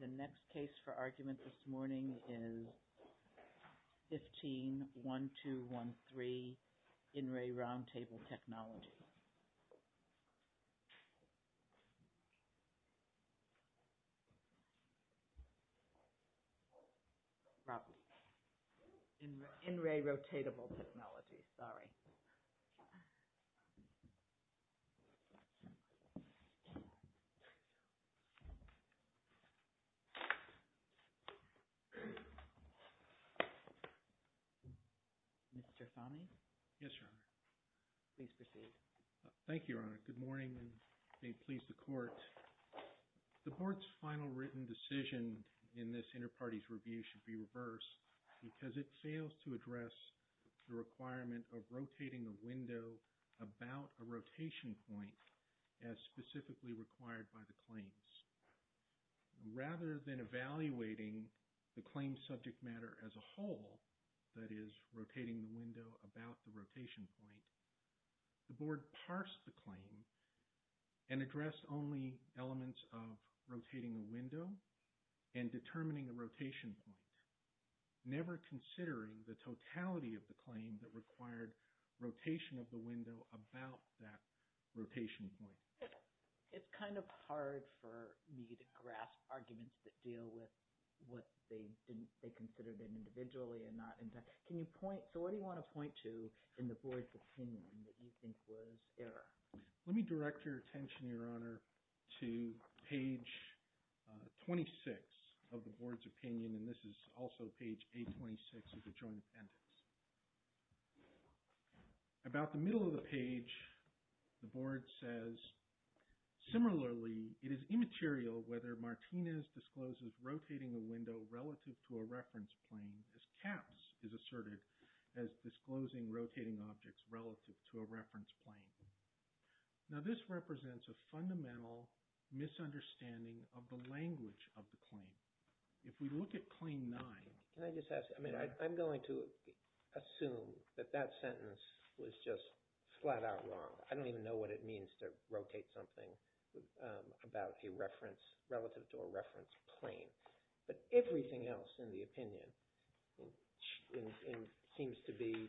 The next case for argument this morning is 15-1213, In Re Roundtable Technologies. Rob, In Re Rotatable Technologies, sorry. Mr. Fahmy? Yes, Your Honor. Please proceed. Thank you, Your Honor. Good morning and may it please the Court. The Board's final written decision in this Interparties Review should be reversed because it fails to address the requirement of rotating the window about a rotation point as specifically required by the claims. Rather than evaluating the claim subject matter as a whole, that is, rotating the window about the rotation point, the Board parsed the claim and addressed only elements of rotating a window and determining a rotation point, never considering the totality of the claim that required rotation of the window about that rotation point. It's kind of hard for me to grasp arguments that deal with what they considered individually. So what do you want to point to in the Board's opinion that you think was error? Let me direct your attention, Your Honor, to page 26 of the Board's opinion, and this is also page 826 of the Joint Appendix. About the middle of the page, the Board says, Similarly, it is immaterial whether Martinez discloses rotating a window relative to a reference plane as Capps is asserted as disclosing rotating objects relative to a reference plane. Now this represents a fundamental misunderstanding of the language of the claim. If we look at claim 9, Can I just ask, I mean, I'm going to assume that that sentence was just flat out wrong. I don't even know what it means to rotate something about a reference relative to a reference plane. But everything else in the opinion seems to be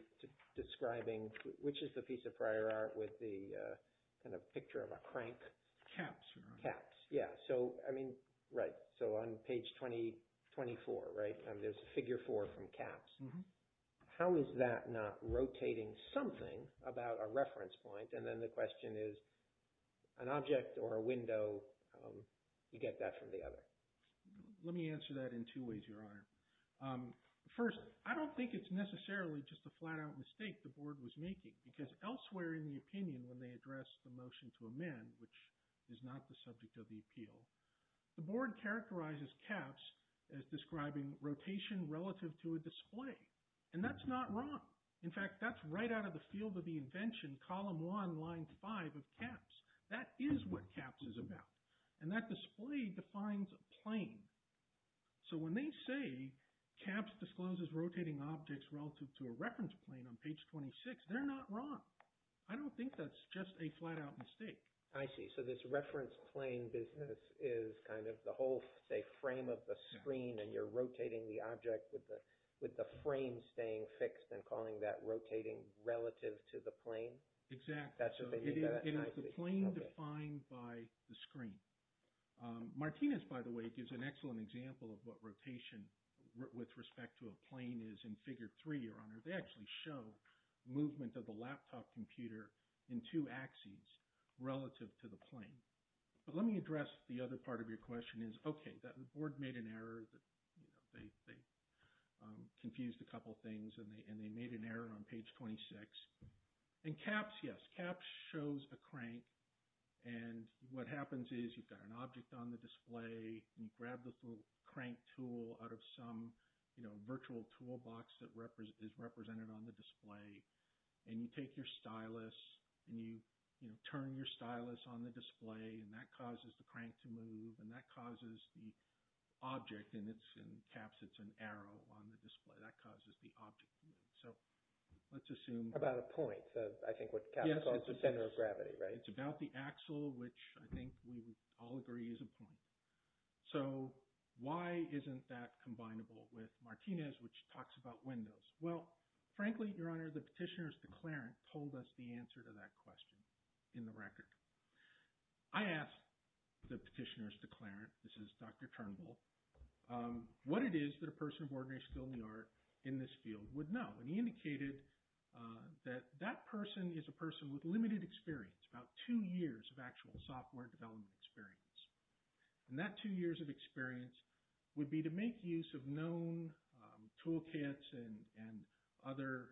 describing, which is the piece of prior art with the kind of picture of a crank? Capps, Your Honor. Capps, yeah. So, I mean, right. So on page 2024, right, there's a figure 4 from Capps. How is that not rotating something about a reference point? And then the question is, an object or a window, you get that from the other. Let me answer that in two ways, Your Honor. First, I don't think it's necessarily just a flat out mistake the board was making. Because elsewhere in the opinion, when they address the motion to amend, which is not the subject of the appeal, the board characterizes Capps as describing rotation relative to a display. And that's not wrong. In fact, that's right out of the field of the invention, column 1, line 5 of Capps. That is what Capps is about. And that display defines a plane. So when they say Capps discloses rotating objects relative to a reference plane on page 26, they're not wrong. I don't think that's just a flat out mistake. I see. So this reference plane business is kind of the whole, say, frame of the screen, and you're rotating the object with the frame staying fixed and calling that rotating relative to the plane? Exactly. That's what they mean by that? It is the plane defined by the screen. Martinez, by the way, gives an excellent example of what rotation with respect to a plane is in figure 3, Your Honor. They actually show movement of the laptop computer in two axes relative to the plane. But let me address the other part of your question is, okay, the board made an error. They confused a couple things, and they made an error on page 26. And Capps, yes, Capps shows a crank. And what happens is you've got an object on the display, and you grab this little crank tool out of some virtual toolbox that is represented on the display. And you take your stylus, and you turn your stylus on the display, and that causes the crank to move, and that causes the object. And in Capps, it's an arrow on the display. That causes the object to move. So let's assume… About a point, I think what Capps calls the center of gravity, right? It's about the axle, which I think we would all agree is a point. So why isn't that combinable with Martinez, which talks about windows? Well, frankly, Your Honor, the petitioner's declarant told us the answer to that question in the record. I asked the petitioner's declarant, this is Dr. Turnbull, what it is that a person of ordinary skill in the art in this field would know. And he indicated that that person is a person with limited experience, about two years of actual software development experience. And that two years of experience would be to make use of known toolkits and other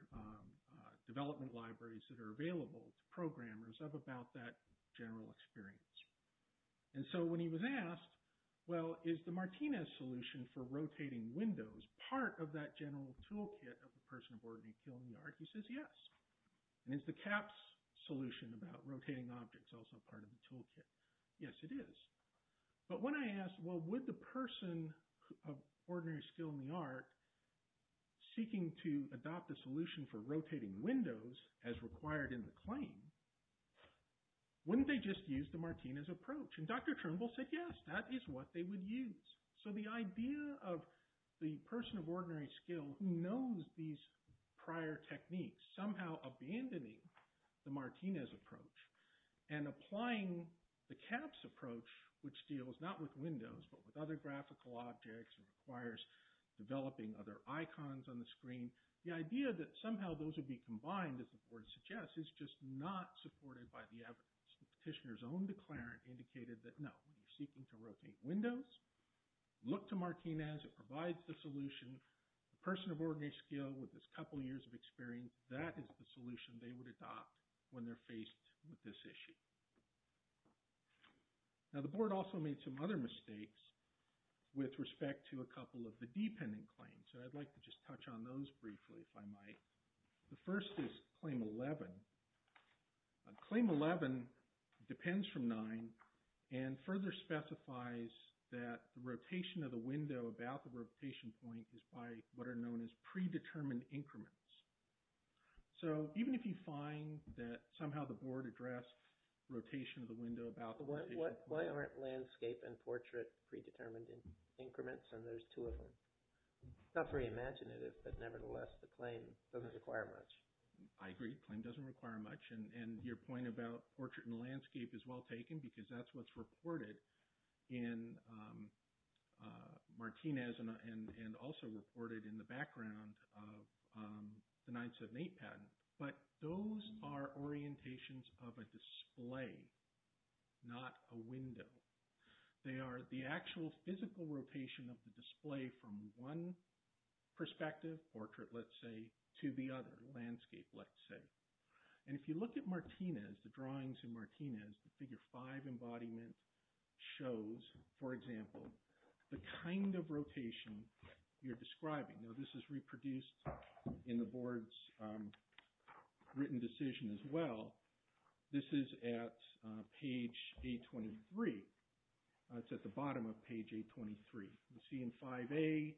development libraries that are available to programmers of about that general experience. And so when he was asked, well, is the Martinez solution for rotating windows part of that general toolkit of the person of ordinary skill in the art? He says yes. And is the Capps solution about rotating objects also part of the toolkit? Yes, it is. But when I asked, well, would the person of ordinary skill in the art, seeking to adopt a solution for rotating windows as required in the claim, wouldn't they just use the Martinez approach? And Dr. Turnbull said yes, that is what they would use. So the idea of the person of ordinary skill who knows these prior techniques somehow abandoning the Martinez approach and applying the Capps approach, which deals not with windows but with other graphical objects and requires developing other icons on the screen. The idea that somehow those would be combined, as the board suggests, is just not supported by the evidence. The petitioner's own declarant indicated that no, when you're seeking to rotate windows, look to Martinez. It provides the solution. The person of ordinary skill with this couple years of experience, that is the solution they would adopt when they're faced with this issue. Now, the board also made some other mistakes with respect to a couple of the dependent claims. So I'd like to just touch on those briefly, if I might. The first is Claim 11. Claim 11 depends from 9 and further specifies that the rotation of the window about the rotation point is by what are known as predetermined increments. So even if you find that somehow the board addressed rotation of the window about the rotation point. Why aren't landscape and portrait predetermined increments and there's two of them? It's not very imaginative, but nevertheless the claim doesn't require much. I agree, claim doesn't require much. And your point about portrait and landscape is well taken because that's what's reported in Martinez and also reported in the background of the 978 patent. But those are orientations of a display, not a window. They are the actual physical rotation of the display from one perspective, portrait let's say, to the other, landscape let's say. And if you look at Martinez, the drawings in Martinez, the figure five embodiment shows, for example, the kind of rotation you're describing. Now this is reproduced in the board's written decision as well. This is at page A23. It's at the bottom of page A23. You see in 5A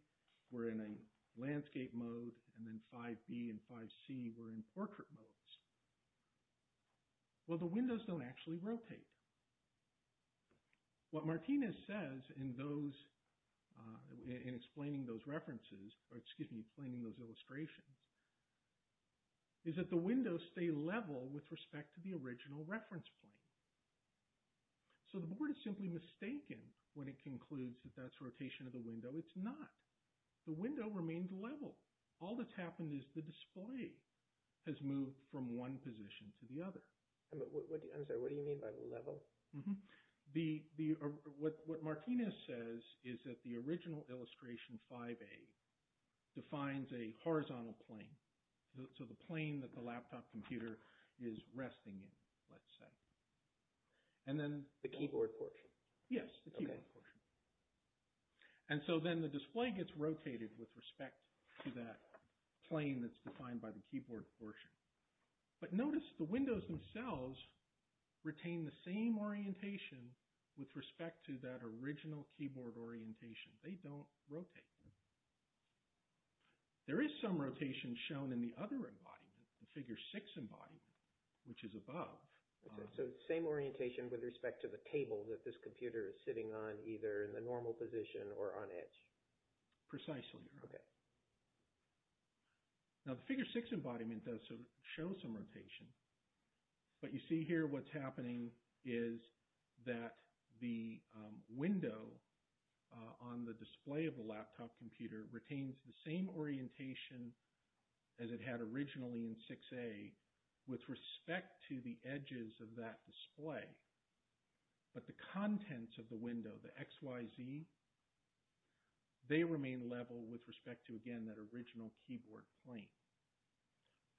we're in a landscape mode and then 5B and 5C we're in portrait modes. Well the windows don't actually rotate. What Martinez says in explaining those illustrations is that the windows stay level with respect to the original reference plane. So the board is simply mistaken when it concludes that that's rotation of the window. It's not. The window remains level. All that's happened is the display has moved from one position to the other. I'm sorry, what do you mean by level? What Martinez says is that the original illustration 5A defines a horizontal plane. So the plane that the laptop computer is resting in, let's say. And then the keyboard portion. Yes, the keyboard portion. And so then the display gets rotated with respect to that plane that's defined by the keyboard portion. But notice the windows themselves retain the same orientation with respect to that original keyboard orientation. They don't rotate. There is some rotation shown in the other embodiment, the figure 6 embodiment, which is above. So it's the same orientation with respect to the table that this computer is sitting on either in the normal position or on edge. Precisely. Okay. Now the figure 6 embodiment does show some rotation. But you see here what's happening is that the window on the display of the laptop computer retains the same orientation as it had originally in 6A with respect to the edges of that display. But the contents of the window, the X, Y, Z, they remain level with respect to, again, that original keyboard plane.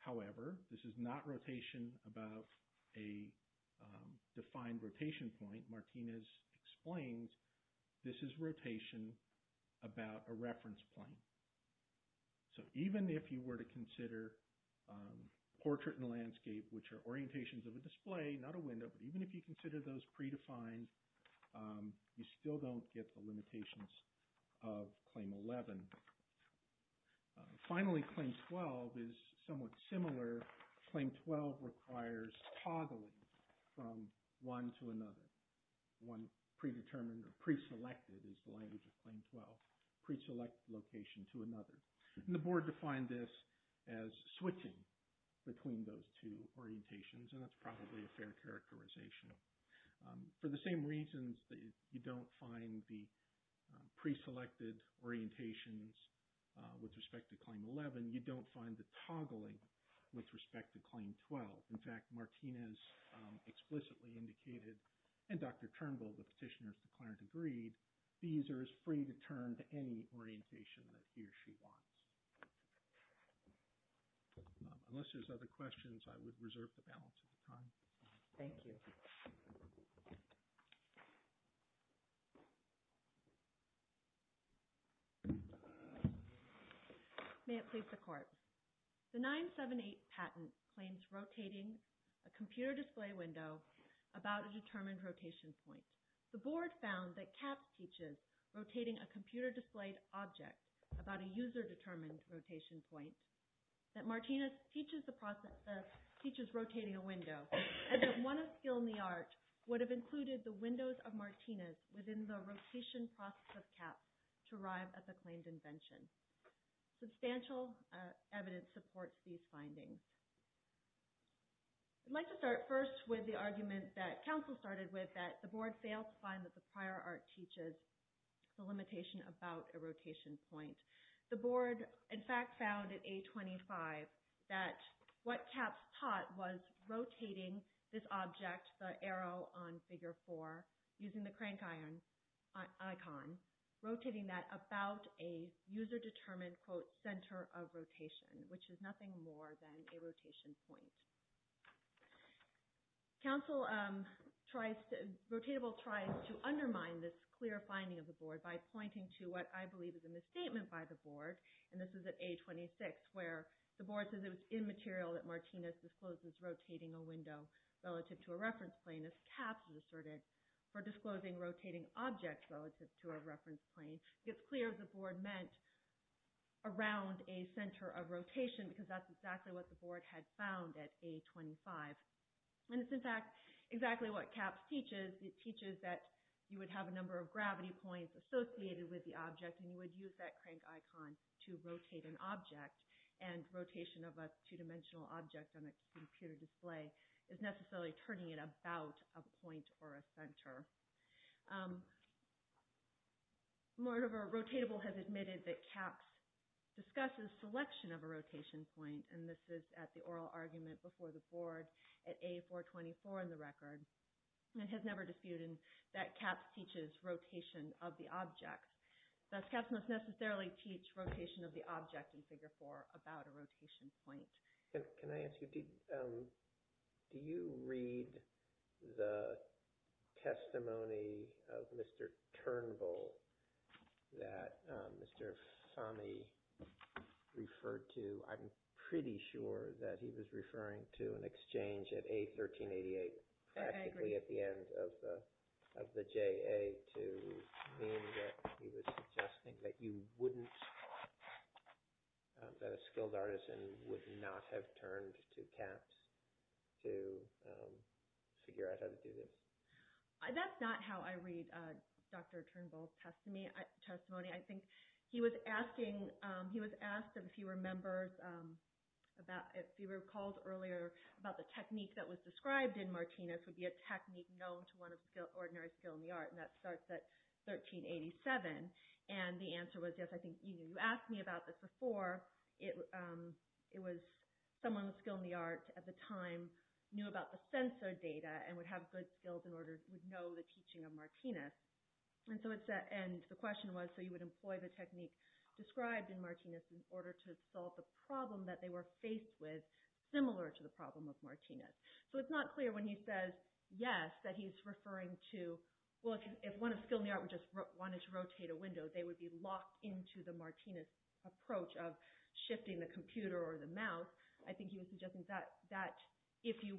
However, this is not rotation above a defined rotation point. Martinez explains this is rotation about a reference plane. So even if you were to consider portrait and landscape, which are orientations of a display, not a window, but even if you consider those predefined, you still don't get the limitations of Claim 11. Finally, Claim 12 is somewhat similar. Claim 12 requires toggling from one to another. One predetermined or preselected is the language of Claim 12, preselect location to another. And the board defined this as switching between those two orientations, and that's probably a fair characterization. For the same reasons that you don't find the preselected orientations with respect to Claim 11, you don't find the toggling with respect to Claim 12. In fact, Martinez explicitly indicated, and Dr. Turnbull, the petitioner's declarant, agreed, these are as free to turn to any orientation that he or she wants. Unless there's other questions, I would reserve the balance of the time. Thank you. May it please the Court. The 978 patent claims rotating a computer display window about a determined rotation point. The board found that Caps teaches rotating a computer-displayed object about a user-determined rotation point, that Martinez teaches rotating a window, and that one of skill in the art would have included the windows of Martinez within the rotation process of Caps to arrive at the claimed invention. Substantial evidence supports these findings. I'd like to start first with the argument that counsel started with, that the board failed to find that the prior art teaches the limitation about a rotation point. The board, in fact, found in A25 that what Caps taught was rotating this object, the arrow on Figure 4, using the crank icon, rotating that about a user-determined, quote, center of rotation, which is nothing more than a rotation point. Counsel tries to, Rotatable tries to undermine this clear finding of the board by pointing to what I believe is a misstatement by the board, and this is at A26, where the board says it was immaterial that Martinez discloses rotating a window relative to a reference plane, as Caps asserted, for disclosing rotating objects relative to a reference plane. It's clear the board meant around a center of rotation, because that's exactly what the board had found at A25. And it's, in fact, exactly what Caps teaches. It teaches that you would have a number of gravity points associated with the object, and you would use that crank icon to rotate an object, and rotation of a two-dimensional object on a computer display is necessarily turning it about a point or a center. Moreover, Rotatable has admitted that Caps discusses selection of a rotation point, and this is at the oral argument before the board at A424 in the record. It has never disputed that Caps teaches rotation of the object. Caps must necessarily teach rotation of the object in Figure 4 about a rotation point. Can I ask you, do you read the testimony of Mr. Turnbull that Mr. Fahmy referred to? I'm pretty sure that he was referring to an exchange at A1388, practically at the end of the JA, to mean that he was suggesting that a skilled artisan would not have turned to Caps to figure out how to do this. That's not how I read Dr. Turnbull's testimony. I think he was asked, if you recall earlier, about the technique that was described in Martinez would be a technique known to one of ordinary skill in the art, and that starts at 1387, and the answer was, yes, I think you asked me about this before. It was someone with skill in the art at the time knew about the sensor data and would have good skills in order to know the teaching of Martinez. And the question was, so you would employ the technique described in Martinez in order to solve the problem that they were faced with, similar to the problem of Martinez. So it's not clear when he says, yes, that he's referring to, well, if one of skill in the art just wanted to rotate a window, they would be locked into the Martinez approach of shifting the computer or the mouse. I think he was suggesting that if you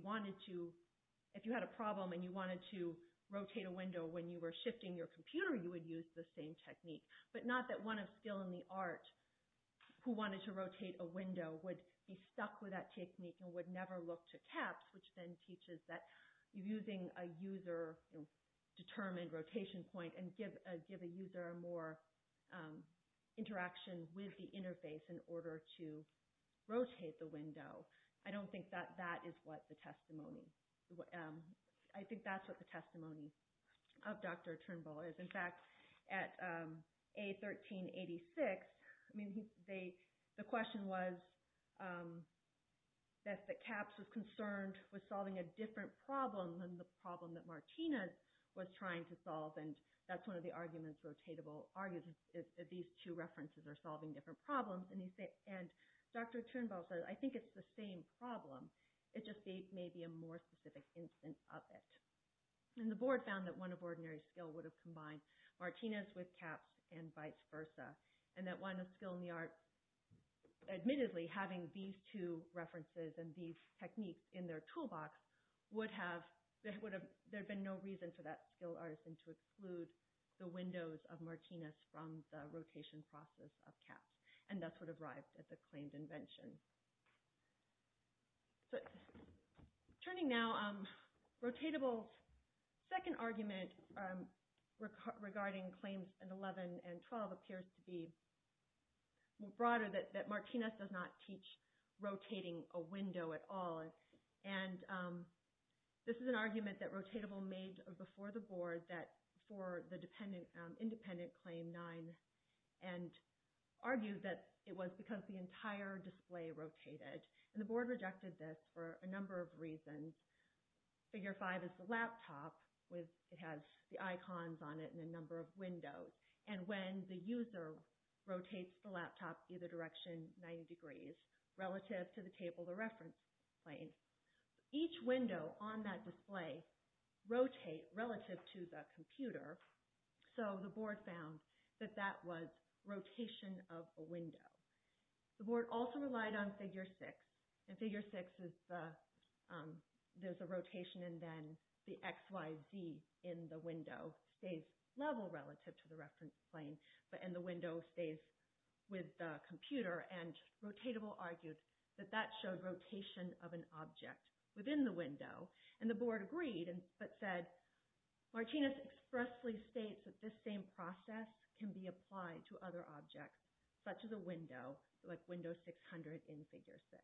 had a problem and you wanted to rotate a window when you were shifting your computer, you would use the same technique, but not that one of skill in the art who wanted to rotate a window would be stuck with that technique and would never look to Caps, which then teaches that using a user-determined rotation point and give a user more interaction with the interface in order to rotate the window. I don't think that that is what the testimony – I think that's what the testimony of Dr. Turnbull is. In fact, at A1386, the question was that Caps was concerned with solving a different problem than the problem that Martinez was trying to solve, and that's one of the arguments, rotatable arguments, that these two references are solving different problems. And Dr. Turnbull said, I think it's the same problem, it just may be a more specific instance of it. And the board found that one of ordinary skill would have combined Martinez with Caps and vice versa, and that one of skill in the art admittedly having these two references and these techniques in their toolbox, there would have been no reason for that skilled artisan to exclude the windows of Martinez from the rotation process of Caps, and that's what arrived at the claimed invention. Turning now, rotatable's second argument regarding claims in 11 and 12 appears to be broader, that Martinez does not teach rotating a window at all. And this is an argument that rotatable made before the board for the independent claim 9 and argued that it was because the entire display rotated, and the board rejected this for a number of reasons. Figure 5 is the laptop, it has the icons on it and a number of windows, and when the user rotates the laptop either direction 90 degrees relative to the table of the reference plane, each window on that display rotates relative to the computer, so the board found that that was rotation of a window. The board also relied on figure 6, and figure 6 is the rotation and then the XYZ in the window stays level relative to the reference plane, and the window stays with the computer, and rotatable argued that that showed rotation of an object within the window, and the board agreed but said, Martinez expressly states that this same process can be applied to other objects such as a window, like window 600 in figure 6.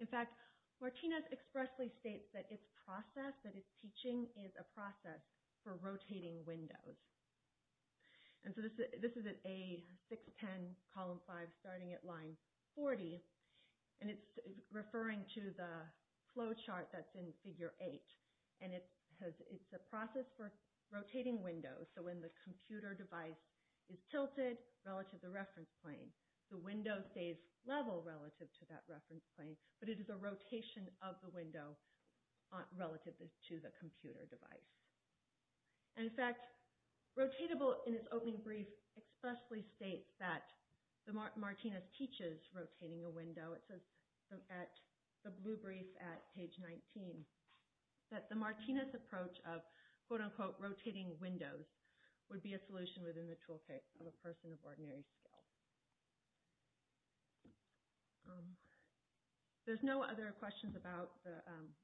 In fact, Martinez expressly states that its process, that its teaching is a process for rotating windows. This is at A610 column 5 starting at line 40, and it's referring to the flow chart that's in figure 8, and it's a process for rotating windows, so when the computer device is tilted relative to the reference plane, the window stays level relative to that reference plane, but it is a rotation of the window relative to the computer device. In fact, rotatable in its opening brief expressly states that Martinez teaches rotating a window. It says at the blue brief at page 19 that the Martinez approach of, quote unquote, rotating windows, would be a solution within the toolkit of a person of ordinary skill. There's no other questions about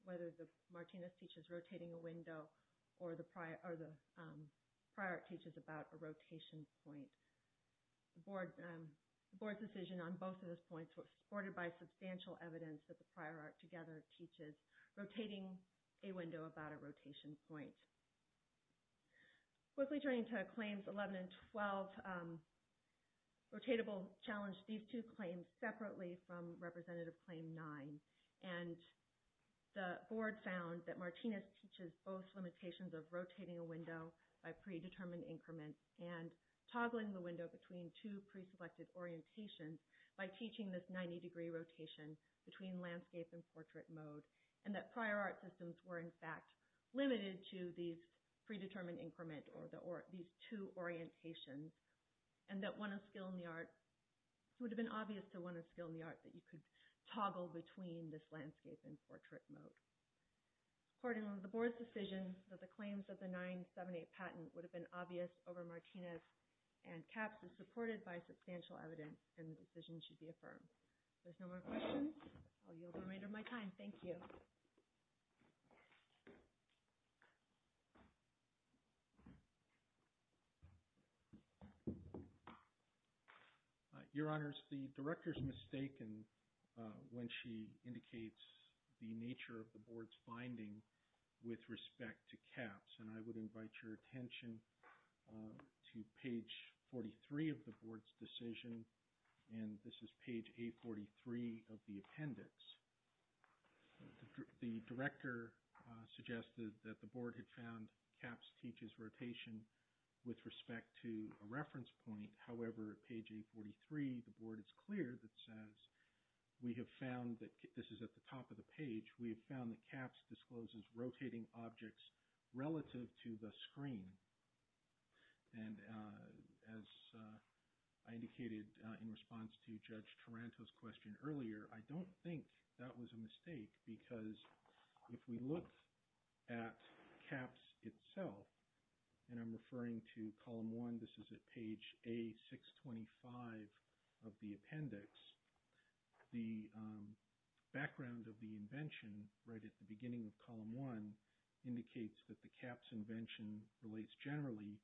whether the Martinez teaches rotating a window or the prior art teaches about a rotation point. The board's decision on both of those points was supported by substantial evidence that the prior art together teaches rotating a window about a rotation point. Quickly turning to claims 11 and 12, rotatable challenged these two claims separately from representative claim 9, and the board found that Martinez teaches both limitations of rotating a window by predetermined increment and toggling the window between two preselected orientations by teaching this 90 degree rotation between landscape and portrait mode, and that prior art systems were in fact limited to these predetermined increment or these two orientations, and that it would have been obvious to one of skill in the art that you could toggle between this landscape and portrait mode. Accordingly, the board's decision that the claims of the 978 patent would have been obvious over Martinez and CAPS is supported by substantial evidence and the decision should be affirmed. If there's no more questions, I'll yield the remainder of my time. Thank you. Your Honors, the Director's mistaken when she indicates the nature of the board's finding with respect to CAPS, and I would invite your attention to page 43 of the board's decision, and this is page A43 of the appendix. The Director suggested that the board had found CAPS teaches rotation with respect to a reference point. However, at page A43, the board is clear that says, we have found that, this is at the top of the page, we have found that CAPS discloses rotating objects relative to the screen, and as I indicated in response to Judge Taranto's question earlier, I don't think that was a mistake, because if we look at CAPS itself, and I'm referring to column one, this is at page A625 of the appendix, the background of the invention right at the beginning of column one indicates that the CAPS invention relates generally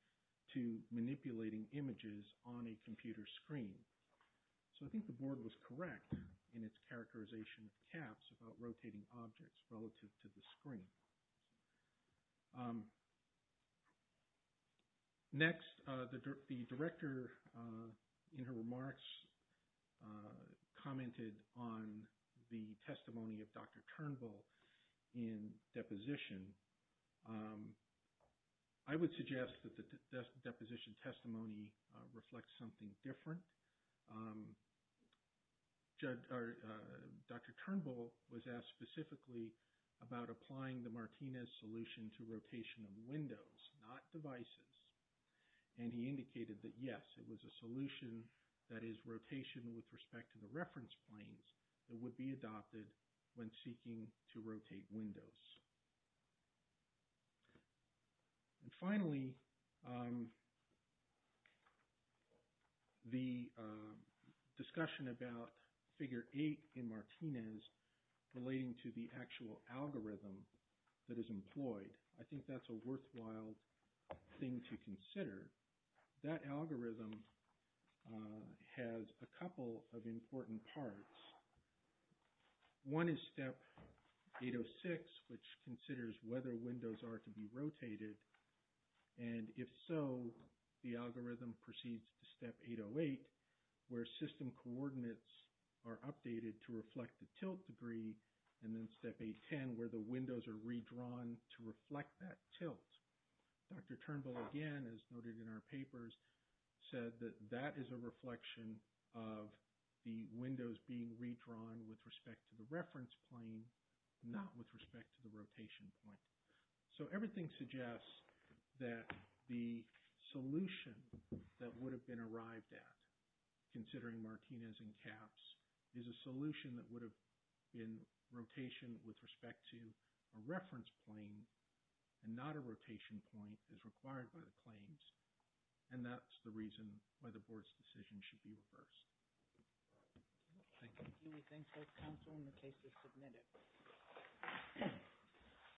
to manipulating images on a computer screen. So I think the board was correct in its characterization of CAPS about rotating objects relative to the screen. Next, the Director in her remarks commented on the testimony of Dr. Turnbull in deposition. I would suggest that the deposition testimony reflects something different. Dr. Turnbull was asked specifically about applying the Martinez solution to rotation of windows, not devices, and he indicated that yes, it was a solution that is rotation with respect to the reference planes that would be adopted when seeking to rotate windows. And finally, the discussion about figure eight in Martinez relating to the actual algorithm that is employed, I think that's a worthwhile thing to consider. That algorithm has a couple of important parts. One is step 806, which considers whether windows are to be rotated, and if so, the algorithm proceeds to step 808, where system coordinates are updated to reflect the tilt degree, and then step 810, where the windows are redrawn to reflect that tilt. Dr. Turnbull, again, as noted in our papers, said that that is a reflection of the windows being redrawn with respect to the reference plane, not with respect to the rotation point. So everything suggests that the solution that would have been arrived at, considering Martinez and CAPS, is a solution that would have been rotation with respect to a reference plane and not a rotation point as required by the claims, and that's the reason why the board's decision should be reversed. Thank you. Thank you. We thank both counsel and the case is submitted.